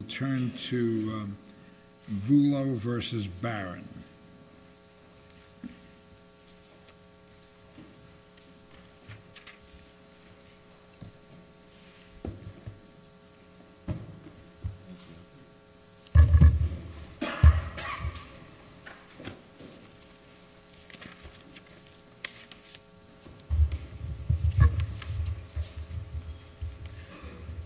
We'll turn to Vullo v. Barron.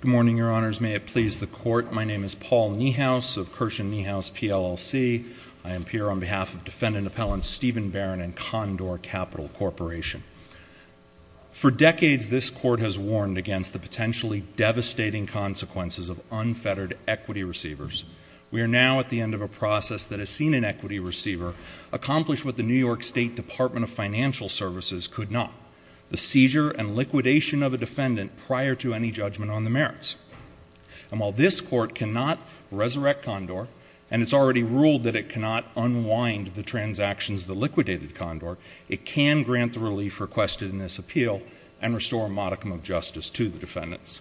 Good morning, Your Honors. May it please the Court, my name is Paul Niehaus of Kirshen Niehaus PLLC. I am here on behalf of Defendant Appellants Stephen Barron and Condor Capital Corporation. For decades, this court has warned against the potentially devastating consequences of unfettered equity receivers. We are now at the end of a process that has seen an equity receiver accomplish what the New York State Department of Financial Services could not. The seizure and liquidation of a defendant prior to any judgment on the merits. And while this court cannot resurrect Condor, and it's already ruled that it cannot unwind the transactions that liquidated Condor, it can grant the relief requested in this appeal and restore a modicum of justice to the defendants.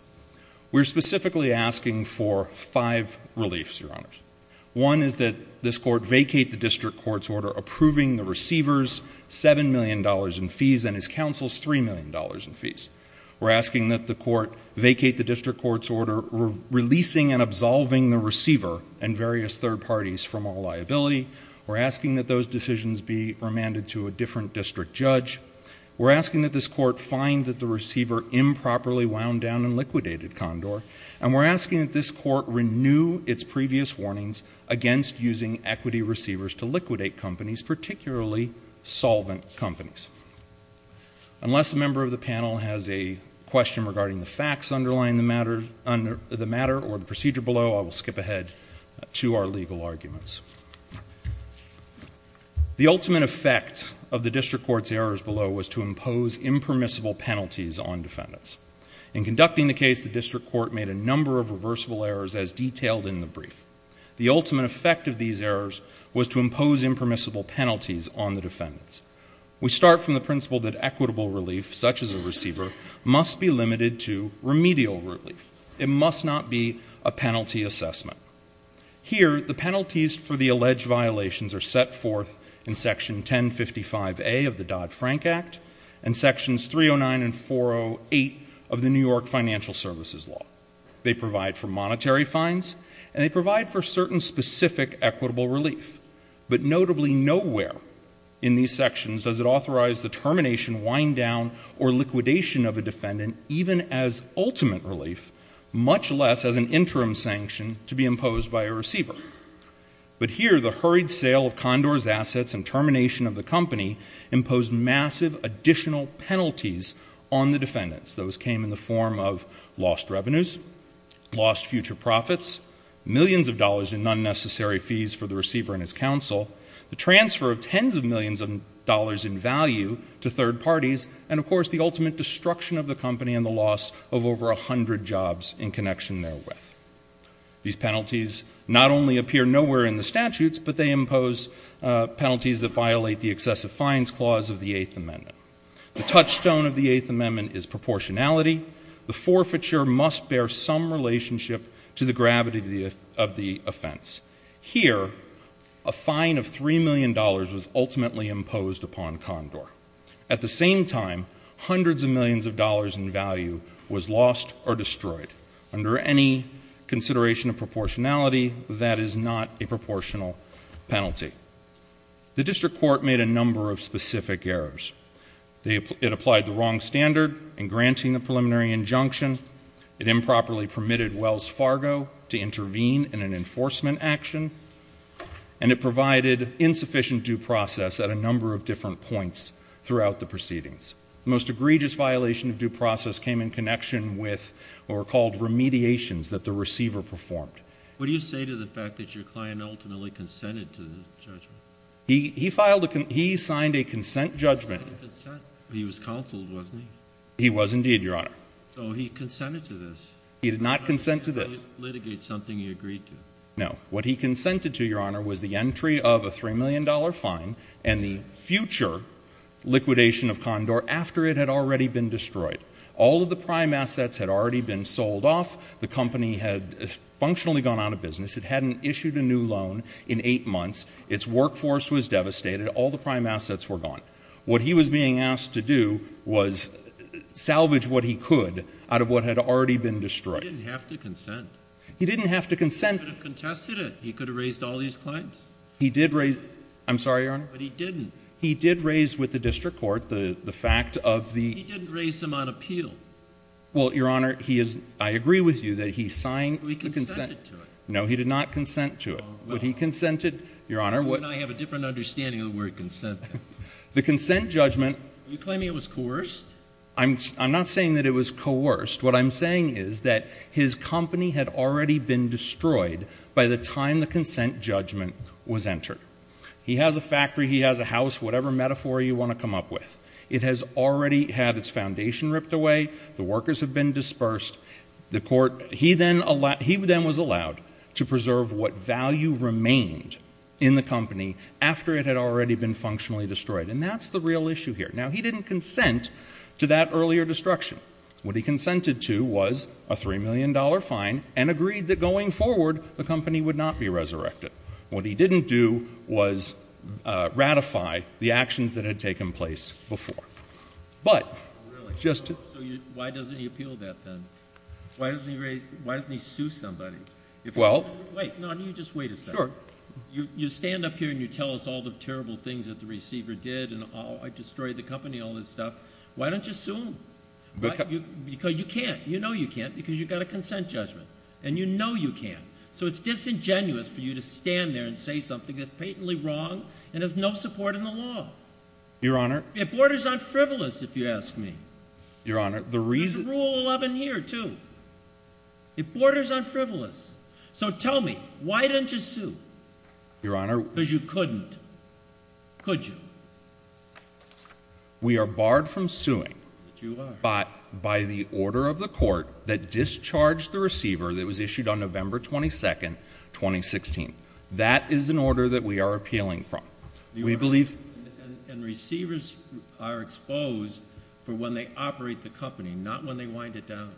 We're specifically asking for five reliefs, Your Honors. One is that this court vacate the district court's order approving the receiver's $7 million in fees and his counsel's $3 million in fees. We're asking that the court vacate the district court's order releasing and absolving the receiver and various third parties from all liability. We're asking that those decisions be remanded to a different district judge. We're asking that this court find that the receiver improperly wound down and liquidated Condor. And we're asking that this court renew its previous warnings against using equity receivers to liquidate companies, particularly solvent companies. Unless a member of the panel has a question regarding the facts underlying the matter or the procedure below, I will skip ahead to our legal arguments. The ultimate effect of the district court's errors below was to impose impermissible penalties on defendants. In conducting the case, the district court made a number of reversible errors as detailed in the brief. The ultimate effect of these errors was to impose impermissible penalties on the defendants. We start from the principle that equitable relief, such as a receiver, must be limited to remedial relief. It must not be a penalty assessment. Here, the penalties for the alleged violations are set forth in section 1055A of the Dodd-Frank Act, and sections 309 and 408 of the New York Financial Services Law. They provide for monetary fines, and they provide for certain specific equitable relief. But notably, nowhere in these sections does it authorize the termination, wind down, or liquidation of a defendant, even as ultimate relief, much less as an interim sanction to be imposed by a receiver. But here, the hurried sale of Condor's assets and termination of the company imposed massive additional penalties on the defendants. Those came in the form of lost revenues, lost future profits, millions of dollars in unnecessary fees for the receiver and his counsel, the transfer of tens of millions of dollars in value to third parties, and of course, the ultimate destruction of the company and the loss of over 100 jobs in connection therewith. These penalties not only appear nowhere in the statutes, but they impose penalties that violate the excessive fines clause of the Eighth Amendment. The touchstone of the Eighth Amendment is proportionality. The forfeiture must bear some relationship to the gravity of the offense. Here, a fine of $3 million was ultimately imposed upon Condor. At the same time, hundreds of millions of dollars in value was lost or destroyed under any consideration of proportionality that is not a proportional penalty. The district court made a number of specific errors. It applied the wrong standard in granting the preliminary injunction. It improperly permitted Wells Fargo to intervene in an enforcement action. And it provided insufficient due process at a number of different points throughout the proceedings. The most egregious violation of due process came in connection with what were called remediations that the receiver performed. What do you say to the fact that your client ultimately consented to the judgment? He signed a consent judgment. He was counseled, wasn't he? He was indeed, your honor. So he consented to this. He did not consent to this. Litigate something he agreed to. No, what he consented to, your honor, was the entry of a $3 million fine and the future liquidation of Condor after it had already been destroyed. All of the prime assets had already been sold off. The company had functionally gone out of business. It hadn't issued a new loan in eight months. Its workforce was devastated. All the prime assets were gone. What he was being asked to do was salvage what he could out of what had already been destroyed. He didn't have to consent. He didn't have to consent. He could have contested it. He could have raised all these claims. He did raise, I'm sorry, your honor. But he didn't. He did raise with the district court the fact of the- He didn't raise them on appeal. Well, your honor, I agree with you that he signed- But he consented to it. No, he did not consent to it. Would he consented? Your honor, what- I have a different understanding of the word consent. The consent judgment- You're claiming it was coerced? I'm not saying that it was coerced. What I'm saying is that his company had already been destroyed by the time the consent judgment was entered. He has a factory, he has a house, whatever metaphor you want to come up with. It has already had its foundation ripped away. The workers have been dispersed. The court, he then was allowed to preserve what value remained in the company after it had already been functionally destroyed. And that's the real issue here. Now, he didn't consent to that earlier destruction. What he consented to was a $3 million fine and agreed that going forward, the company would not be resurrected. What he didn't do was ratify the actions that had taken place before. But, just to- Why doesn't he sue somebody? Well- Wait, no, you just wait a second. Sure. You stand up here and you tell us all the terrible things that the receiver did and, oh, I destroyed the company, all this stuff. Why don't you sue him? Because you can't. You know you can't because you've got a consent judgment. And you know you can't. So, it's disingenuous for you to stand there and say something that's patently wrong and has no support in the law. Your honor- It borders on frivolous, if you ask me. Your honor, the reason- Rule 11 here, too. It borders on frivolous. So, tell me, why didn't you sue? Your honor- Because you couldn't. Could you? We are barred from suing by the order of the court that discharged the receiver that was issued on November 22nd, 2016. That is an order that we are appealing from. We believe- And they wind it down.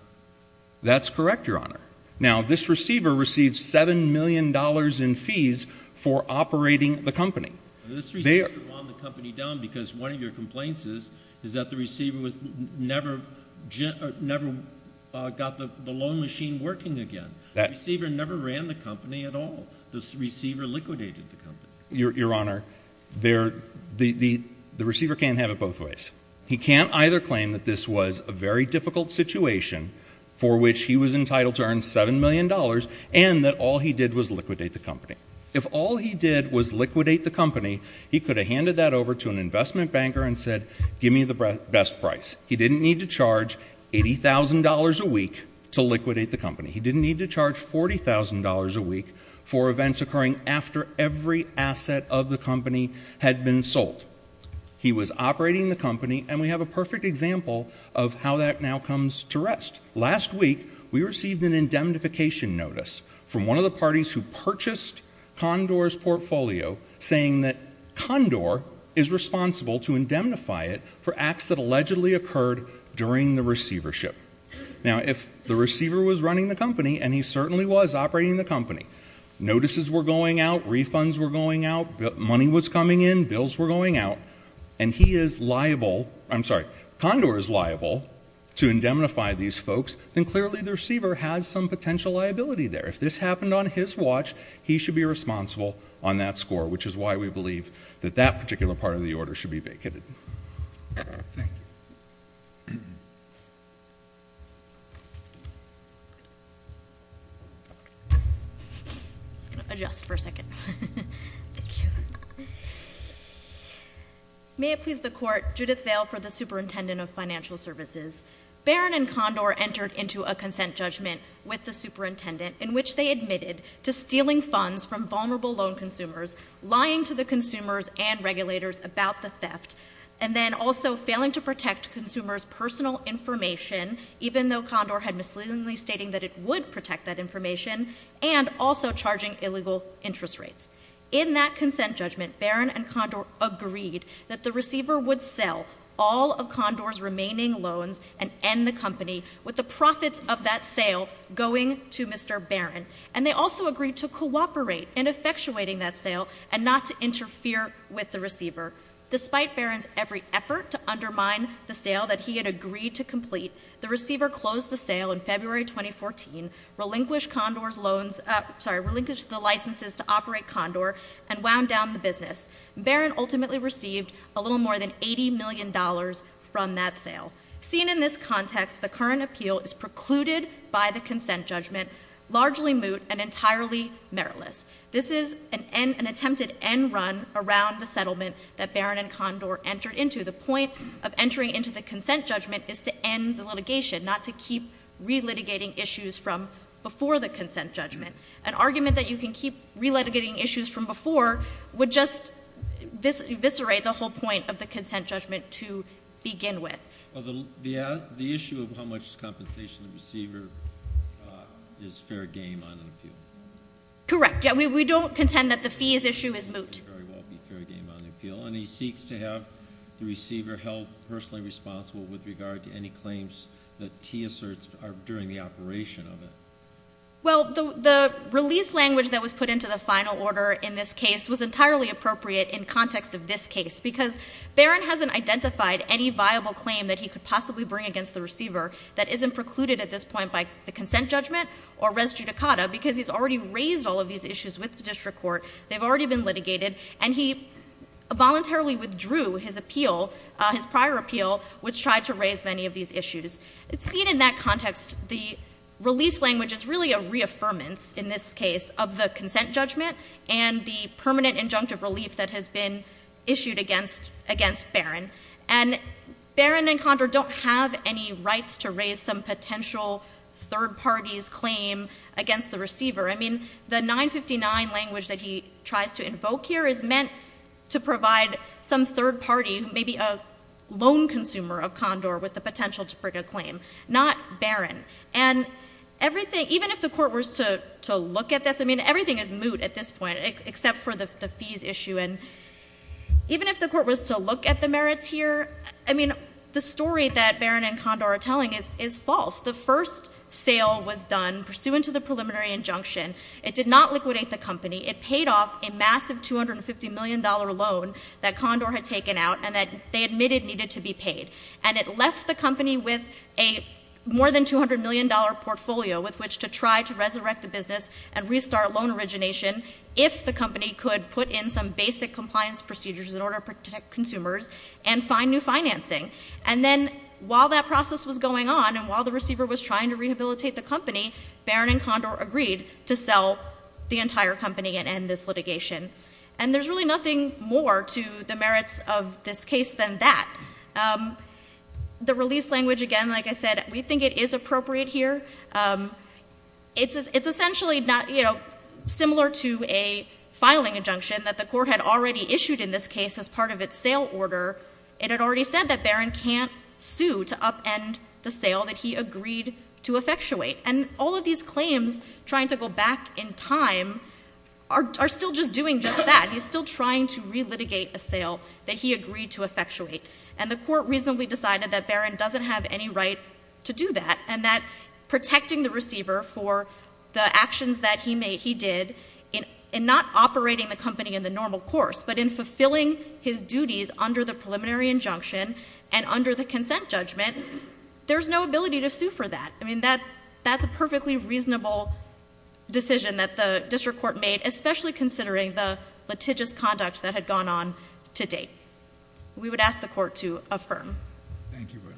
That's correct, your honor. Now, this receiver received $7 million in fees for operating the company. This receiver wound the company down because one of your complaints is that the receiver never got the loan machine working again. The receiver never ran the company at all. The receiver liquidated the company. Your honor, the receiver can't have it both ways. He can't either claim that this was a very difficult situation for which he was entitled to earn $7 million and that all he did was liquidate the company. If all he did was liquidate the company, he could have handed that over to an investment banker and said, give me the best price. He didn't need to charge $80,000 a week to liquidate the company. He didn't need to charge $40,000 a week for events occurring after every asset of the company had been sold. He was operating the company, and we have a perfect example of how that now comes to rest. Last week, we received an indemnification notice from one of the parties who purchased Condor's portfolio, saying that Condor is responsible to indemnify it for acts that allegedly occurred during the receivership. Now, if the receiver was running the company, and he certainly was operating the company, notices were going out, refunds were going out, money was coming in, bills were going out, and he is liable. I'm sorry, Condor is liable to indemnify these folks, then clearly the receiver has some potential liability there. If this happened on his watch, he should be responsible on that score, which is why we believe that that particular part of the order should be vacated. Thank you. I'm just going to adjust for a second. May it please the court, Judith Vale for the Superintendent of Financial Services. Barron and Condor entered into a consent judgment with the superintendent, in which they admitted to stealing funds from vulnerable loan consumers, lying to the consumers and regulators about the theft. And then also failing to protect consumers' personal information, even though Condor had misleadingly stating that it would protect that information, and also charging illegal interest rates. In that consent judgment, Barron and Condor agreed that the receiver would sell all of Condor's remaining loans and end the company with the profits of that sale going to Mr. Barron. And they also agreed to cooperate in effectuating that sale and not to interfere with the receiver. Despite Barron's every effort to undermine the sale that he had agreed to complete, the receiver closed the sale in February 2014, relinquished Condor's loans, sorry, relinquished the licenses to operate Condor, and wound down the business. Barron ultimately received a little more than $80 million from that sale. Seen in this context, the current appeal is precluded by the consent judgment, largely moot and entirely meritless. This is an attempted end run around the settlement that Barron and Condor entered into. The point of entering into the consent judgment is to end the litigation, not to keep re-litigating issues from before the consent judgment. An argument that you can keep re-litigating issues from before would just eviscerate the whole point of the consent judgment to begin with. The issue of how much compensation the receiver is fair game on an appeal. Correct, yeah, we don't contend that the fees issue is moot. Very well be fair game on appeal, and he seeks to have the receiver held personally responsible with regard to any claims that he asserts during the operation of it. Well, the release language that was put into the final order in this case was entirely appropriate in context of this case. Because Barron hasn't identified any viable claim that he could possibly bring against the receiver that isn't precluded at this point by the consent judgment or res judicata because he's already raised all of these issues with the district court. They've already been litigated and he voluntarily withdrew his appeal, his prior appeal, which tried to raise many of these issues. It's seen in that context the release language is really a reaffirmance in this case of the consent judgment and the permanent injunctive relief that has been issued against Barron. And Barron and Condor don't have any rights to raise some potential third party's claim against the receiver. I mean, the 959 language that he tries to invoke here is meant to provide some third party, maybe a loan consumer of Condor with the potential to bring a claim, not Barron. And even if the court was to look at this, I mean, everything is moot at this point except for the fees issue. And even if the court was to look at the merits here, I mean, the story that Barron and Condor are telling is false. The first sale was done pursuant to the preliminary injunction. It did not liquidate the company. It paid off a massive $250 million loan that Condor had taken out and that they admitted needed to be paid. And it left the company with a more than $200 million portfolio with which to try to resurrect the business and the basic compliance procedures in order to protect consumers and find new financing. And then while that process was going on and while the receiver was trying to rehabilitate the company, Barron and Condor agreed to sell the entire company and end this litigation. And there's really nothing more to the merits of this case than that. The release language, again, like I said, we think it is appropriate here. It's essentially similar to a filing injunction that the court had already issued in this case as part of its sale order. It had already said that Barron can't sue to upend the sale that he agreed to effectuate. And all of these claims, trying to go back in time, are still just doing just that. He's still trying to relitigate a sale that he agreed to effectuate. And the court reasonably decided that Barron doesn't have any right to do that. And that protecting the receiver for the actions that he did, in not operating the company in the normal course, but in fulfilling his duties under the preliminary injunction. And under the consent judgment, there's no ability to sue for that. I mean, that's a perfectly reasonable decision that the district court made, especially considering the litigious conduct that had gone on to date. We would ask the court to affirm. Thank you very much.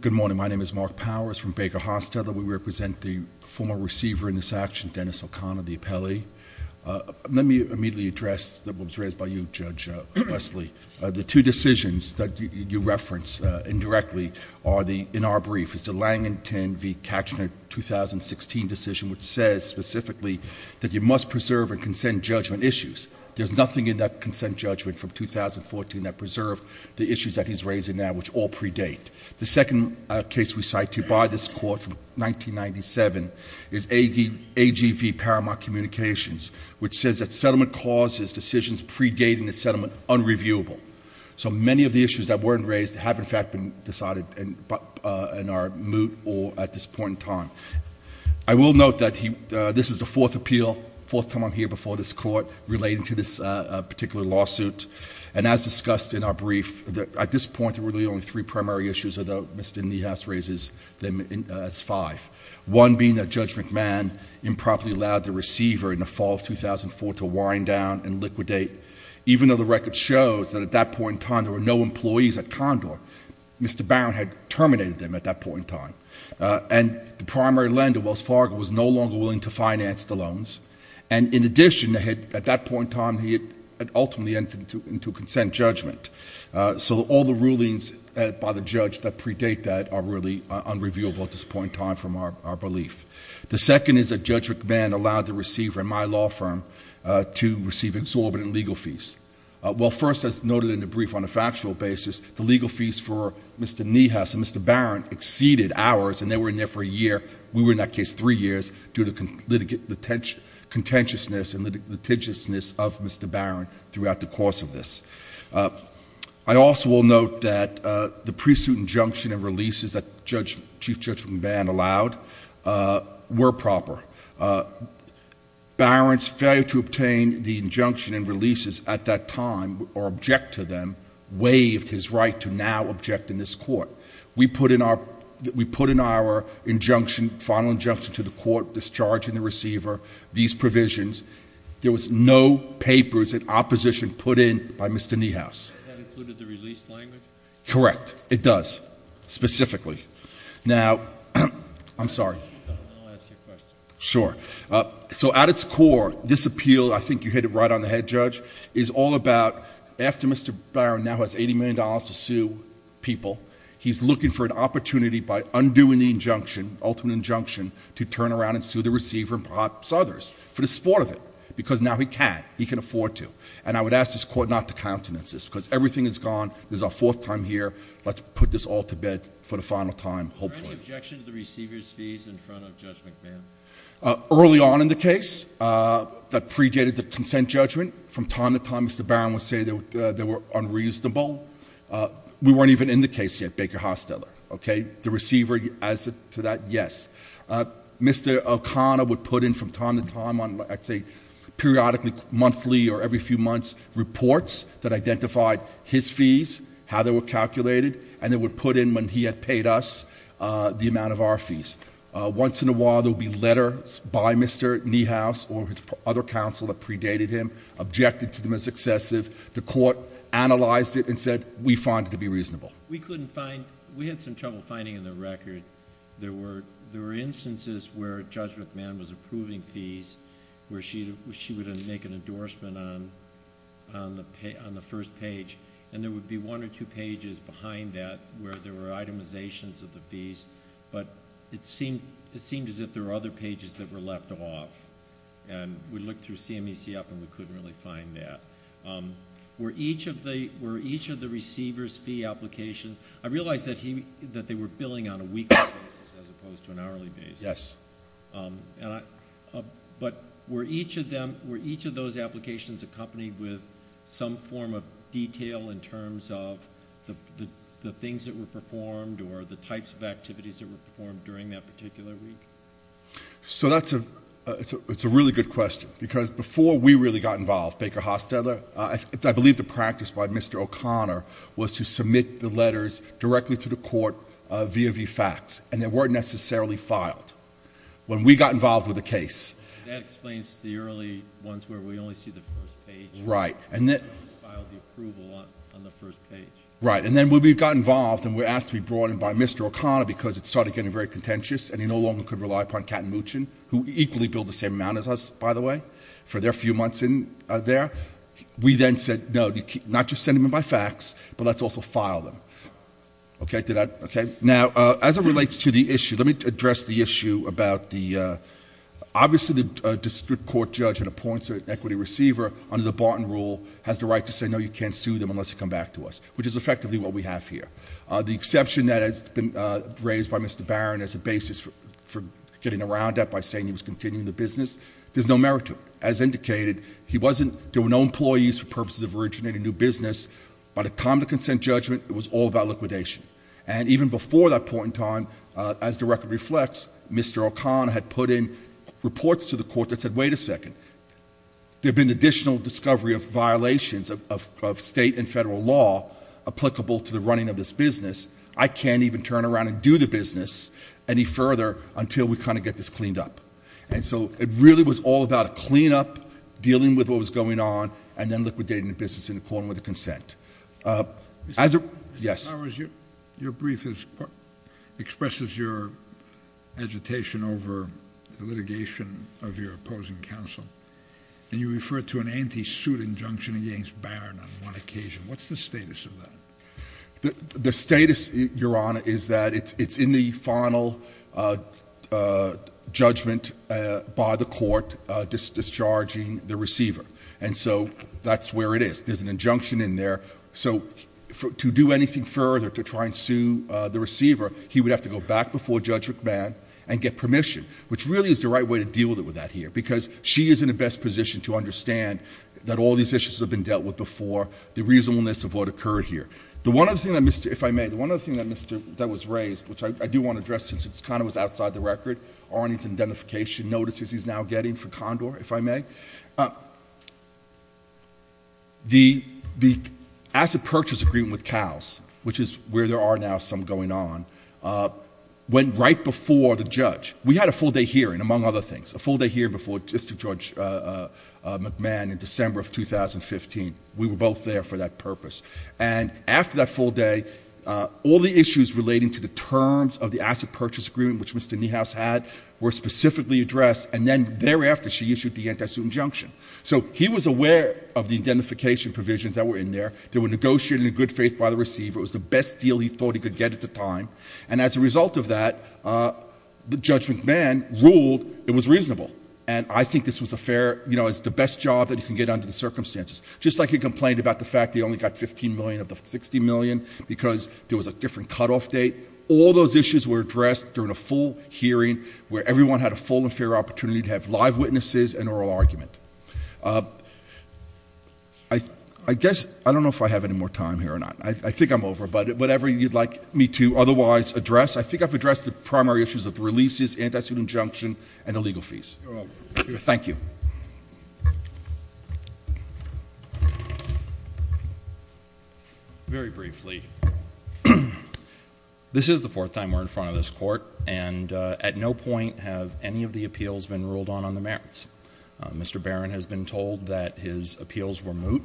Good morning, my name is Mark Powers from Baker Hostetler. We represent the former receiver in this action, Dennis O'Connor, the appellee. Let me immediately address, that was raised by you, Judge Wesley. The two decisions that you referenced indirectly are the, in our brief, is the Langenton v. Katchner 2016 decision, which says specifically that you must preserve and consent judgment issues. There's nothing in that consent judgment from 2014 that preserved the issues that he's raising now, which all predate. The second case we cite to you by this court from 1997 is AGV Paramount Communications, which says that settlement causes decisions predating the settlement unreviewable. So many of the issues that weren't raised have in fact been decided in our moot or at this point in time. I will note that this is the fourth appeal, fourth time I'm here before this court relating to this particular lawsuit. And as discussed in our brief, at this point there were really only three primary issues that Mr. Niehaus raises as five, one being that Judge McMahon improperly allowed the receiver in the fall of 2004 to wind down and liquidate. Even though the record shows that at that point in time there were no employees at Condor, Mr. Barron had terminated them at that point in time, and the primary lender, Wells Fargo, was no longer willing to finance the loans. And in addition, at that point in time, he had ultimately entered into a consent judgment. So all the rulings by the judge that predate that are really unreviewable at this point in time from our belief. The second is that Judge McMahon allowed the receiver in my law firm to receive exorbitant legal fees. Well, first, as noted in the brief on a factual basis, the legal fees for Mr. Niehaus and Mr. Barron exceeded ours, and they were in there for a year. We were in that case three years due to contentiousness and litigiousness of Mr. Barron throughout the course of this. I also will note that the pre-suit injunction and releases that Chief Judge McMahon allowed were proper. Barron's failure to obtain the injunction and releases at that time, or object to them, waived his right to now object in this court. We put in our final injunction to the court, discharging the receiver, these provisions. There was no papers in opposition put in by Mr. Niehaus. That included the release language? Correct, it does, specifically. Now, I'm sorry. I'll ask you a question. Sure. So at its core, this appeal, I think you hit it right on the head, Judge, is all about after Mr. Barron's $15 million to sue people, he's looking for an opportunity by undoing the injunction, ultimate injunction, to turn around and sue the receiver and perhaps others for the sport of it. Because now he can, he can afford to. And I would ask this court not to countenance this, because everything is gone. This is our fourth time here. Let's put this all to bed for the final time, hopefully. Is there any objection to the receiver's fees in front of Judge McMahon? Early on in the case, that predated the consent judgment. From time to time, Mr. Barron would say they were unreasonable. We weren't even in the case yet, Baker Hosteller, okay? The receiver, as to that, yes. Mr. O'Connor would put in from time to time on, I'd say, periodically, monthly, or every few months, reports that identified his fees, how they were calculated, and they would put in when he had paid us the amount of our fees. Once in a while, there would be letters by Mr. Niehaus or other counsel that predated him, objected to them as excessive. The court analyzed it and said, we find it to be reasonable. We couldn't find, we had some trouble finding in the record. There were instances where Judge McMahon was approving fees, where she would make an endorsement on the first page. And there would be one or two pages behind that, where there were itemizations of the fees. But it seemed as if there were other pages that were left off. And we looked through CMEC up and we couldn't really find that. Were each of the receiver's fee applications, I realize that they were billing on a weekly basis as opposed to an hourly basis. Yes. But were each of those applications accompanied with some form of detail in terms of the things that were performed or the types of activities that were performed during that particular week? So that's a really good question. Because before we really got involved, Baker Hostetler, I believe the practice by Mr. O'Connor was to submit the letters directly to the court via VFAX. And they weren't necessarily filed. When we got involved with the case- That explains the early ones where we only see the first page. Right. And then- We always filed the approval on the first page. Right, and then when we got involved and were asked to be brought in by Mr. O'Connor because it started getting very contentious and he no longer could rely upon Kat and Moochin, who equally billed the same amount as us, by the way, for their few months in there. We then said, no, not just send them in by fax, but let's also file them. Okay, did I, okay. Now, as it relates to the issue, let me address the issue about the, obviously the district court judge that appoints an equity receiver under the Barton rule has the right to say, no, you can't sue them unless you come back to us. Which is effectively what we have here. The exception that has been raised by Mr. Barron as a basis for getting around that by saying he was continuing the business, there's no merit to it. As indicated, there were no employees for purposes of originating new business. By the time of the consent judgment, it was all about liquidation. And even before that point in time, as the record reflects, Mr. O'Connor had put in reports to the court that said, wait a second. There have been additional discovery of violations of state and federal law applicable to the running of this business. I can't even turn around and do the business any further until we kind of get this cleaned up. And so, it really was all about a clean up, dealing with what was going on, and then liquidating the business in accordance with the consent. As a, yes. Your brief expresses your agitation over the litigation of your opposing counsel. And you refer to an anti-suit injunction against Barron on one occasion. What's the status of that? The status, Your Honor, is that it's in the final judgment by the court discharging the receiver. And so, that's where it is. There's an injunction in there. So, to do anything further to try and sue the receiver, he would have to go back before Judge McMahon and get permission. Which really is the right way to deal with that here, because she is in the best position to understand that all these issues have been dealt with before. The reasonableness of what occurred here. The one other thing that Mr., if I may, the one other thing that Mr., that was raised, which I do want to address since it kind of was outside the record. Arnie's identification notices he's now getting for Condor, if I may. The asset purchase agreement with CALS, which is where there are now some going on, went right before the judge. We had a full day hearing, among other things. A full day hearing before District Judge McMahon in December of 2015. We were both there for that purpose. And after that full day, all the issues relating to the terms of the asset purchase agreement, which Mr. Niehaus had, were specifically addressed, and then thereafter she issued the anti-suit injunction. So he was aware of the identification provisions that were in there. They were negotiated in good faith by the receiver. It was the best deal he thought he could get at the time. And as a result of that, Judge McMahon ruled it was reasonable. And I think this was the best job that he could get under the circumstances. Just like he complained about the fact that he only got 15 million of the 60 million because there was a different cutoff date. All those issues were addressed during a full hearing, where everyone had a full and fair opportunity to have live witnesses and oral argument. I guess, I don't know if I have any more time here or not. I think I'm over, but whatever you'd like me to otherwise address. I think I've addressed the primary issues of releases, anti-suit injunction, and the legal fees. Thank you. Very briefly, this is the fourth time we're in front of this court. And at no point have any of the appeals been ruled on on the merits. Mr. Barron has been told that his appeals were moot,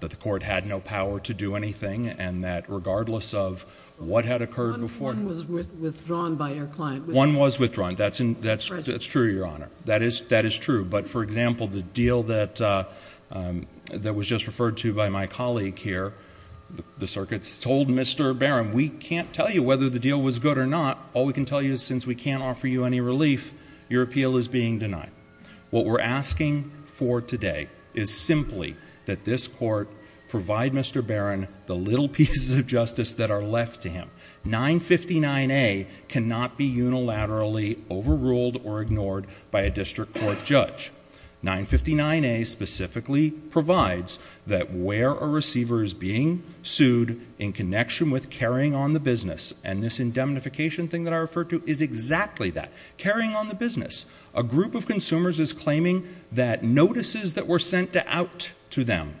that the court had no power to do anything. And that regardless of what had occurred before. One was withdrawn by your client. One was withdrawn, that's true, Your Honor. That is true, but for example, the deal that was just referred to by my colleague here. The circuit's told Mr. Barron, we can't tell you whether the deal was good or not. All we can tell you is since we can't offer you any relief, your appeal is being denied. What we're asking for today is simply that this court provide Mr. Barron the little pieces of justice that are left to him. 959A cannot be unilaterally overruled or ignored by a district court judge. 959A specifically provides that where a receiver is being sued in connection with carrying on the business. And this indemnification thing that I referred to is exactly that, carrying on the business. A group of consumers is claiming that notices that were sent out to them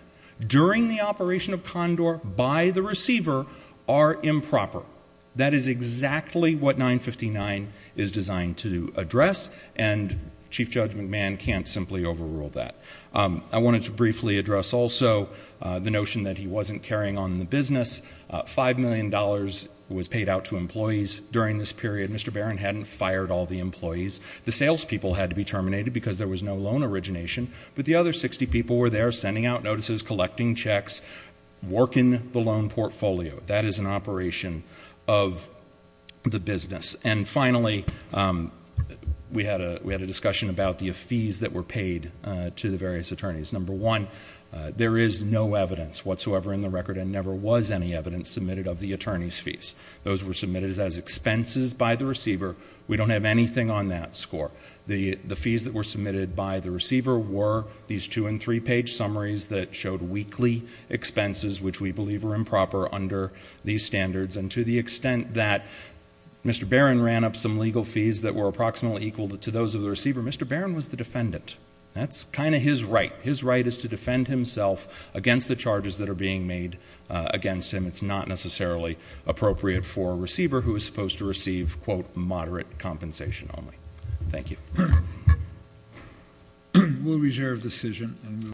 during the operation of Condor by the receiver are improper. That is exactly what 959 is designed to address, and Chief Judge McMahon can't simply overrule that. I wanted to briefly address also the notion that he wasn't carrying on the business. $5 million was paid out to employees during this period. Mr. Barron hadn't fired all the employees. The sales people had to be terminated because there was no loan origination. But the other 60 people were there sending out notices, collecting checks, working the loan portfolio. That is an operation of the business. And finally, we had a discussion about the fees that were paid to the various attorneys. Number one, there is no evidence whatsoever in the record and never was any evidence submitted of the attorney's fees. Those were submitted as expenses by the receiver. We don't have anything on that score. The fees that were submitted by the receiver were these two and three page summaries that showed weekly expenses, which we believe are improper under these standards. And to the extent that Mr. Barron ran up some legal fees that were approximately equal to those of the receiver, Mr. Barron was the defendant. That's kind of his right. His right is to defend himself against the charges that are being made against him. It's not necessarily appropriate for a receiver who is supposed to receive, quote, moderate compensation only. Thank you. We'll reserve decision.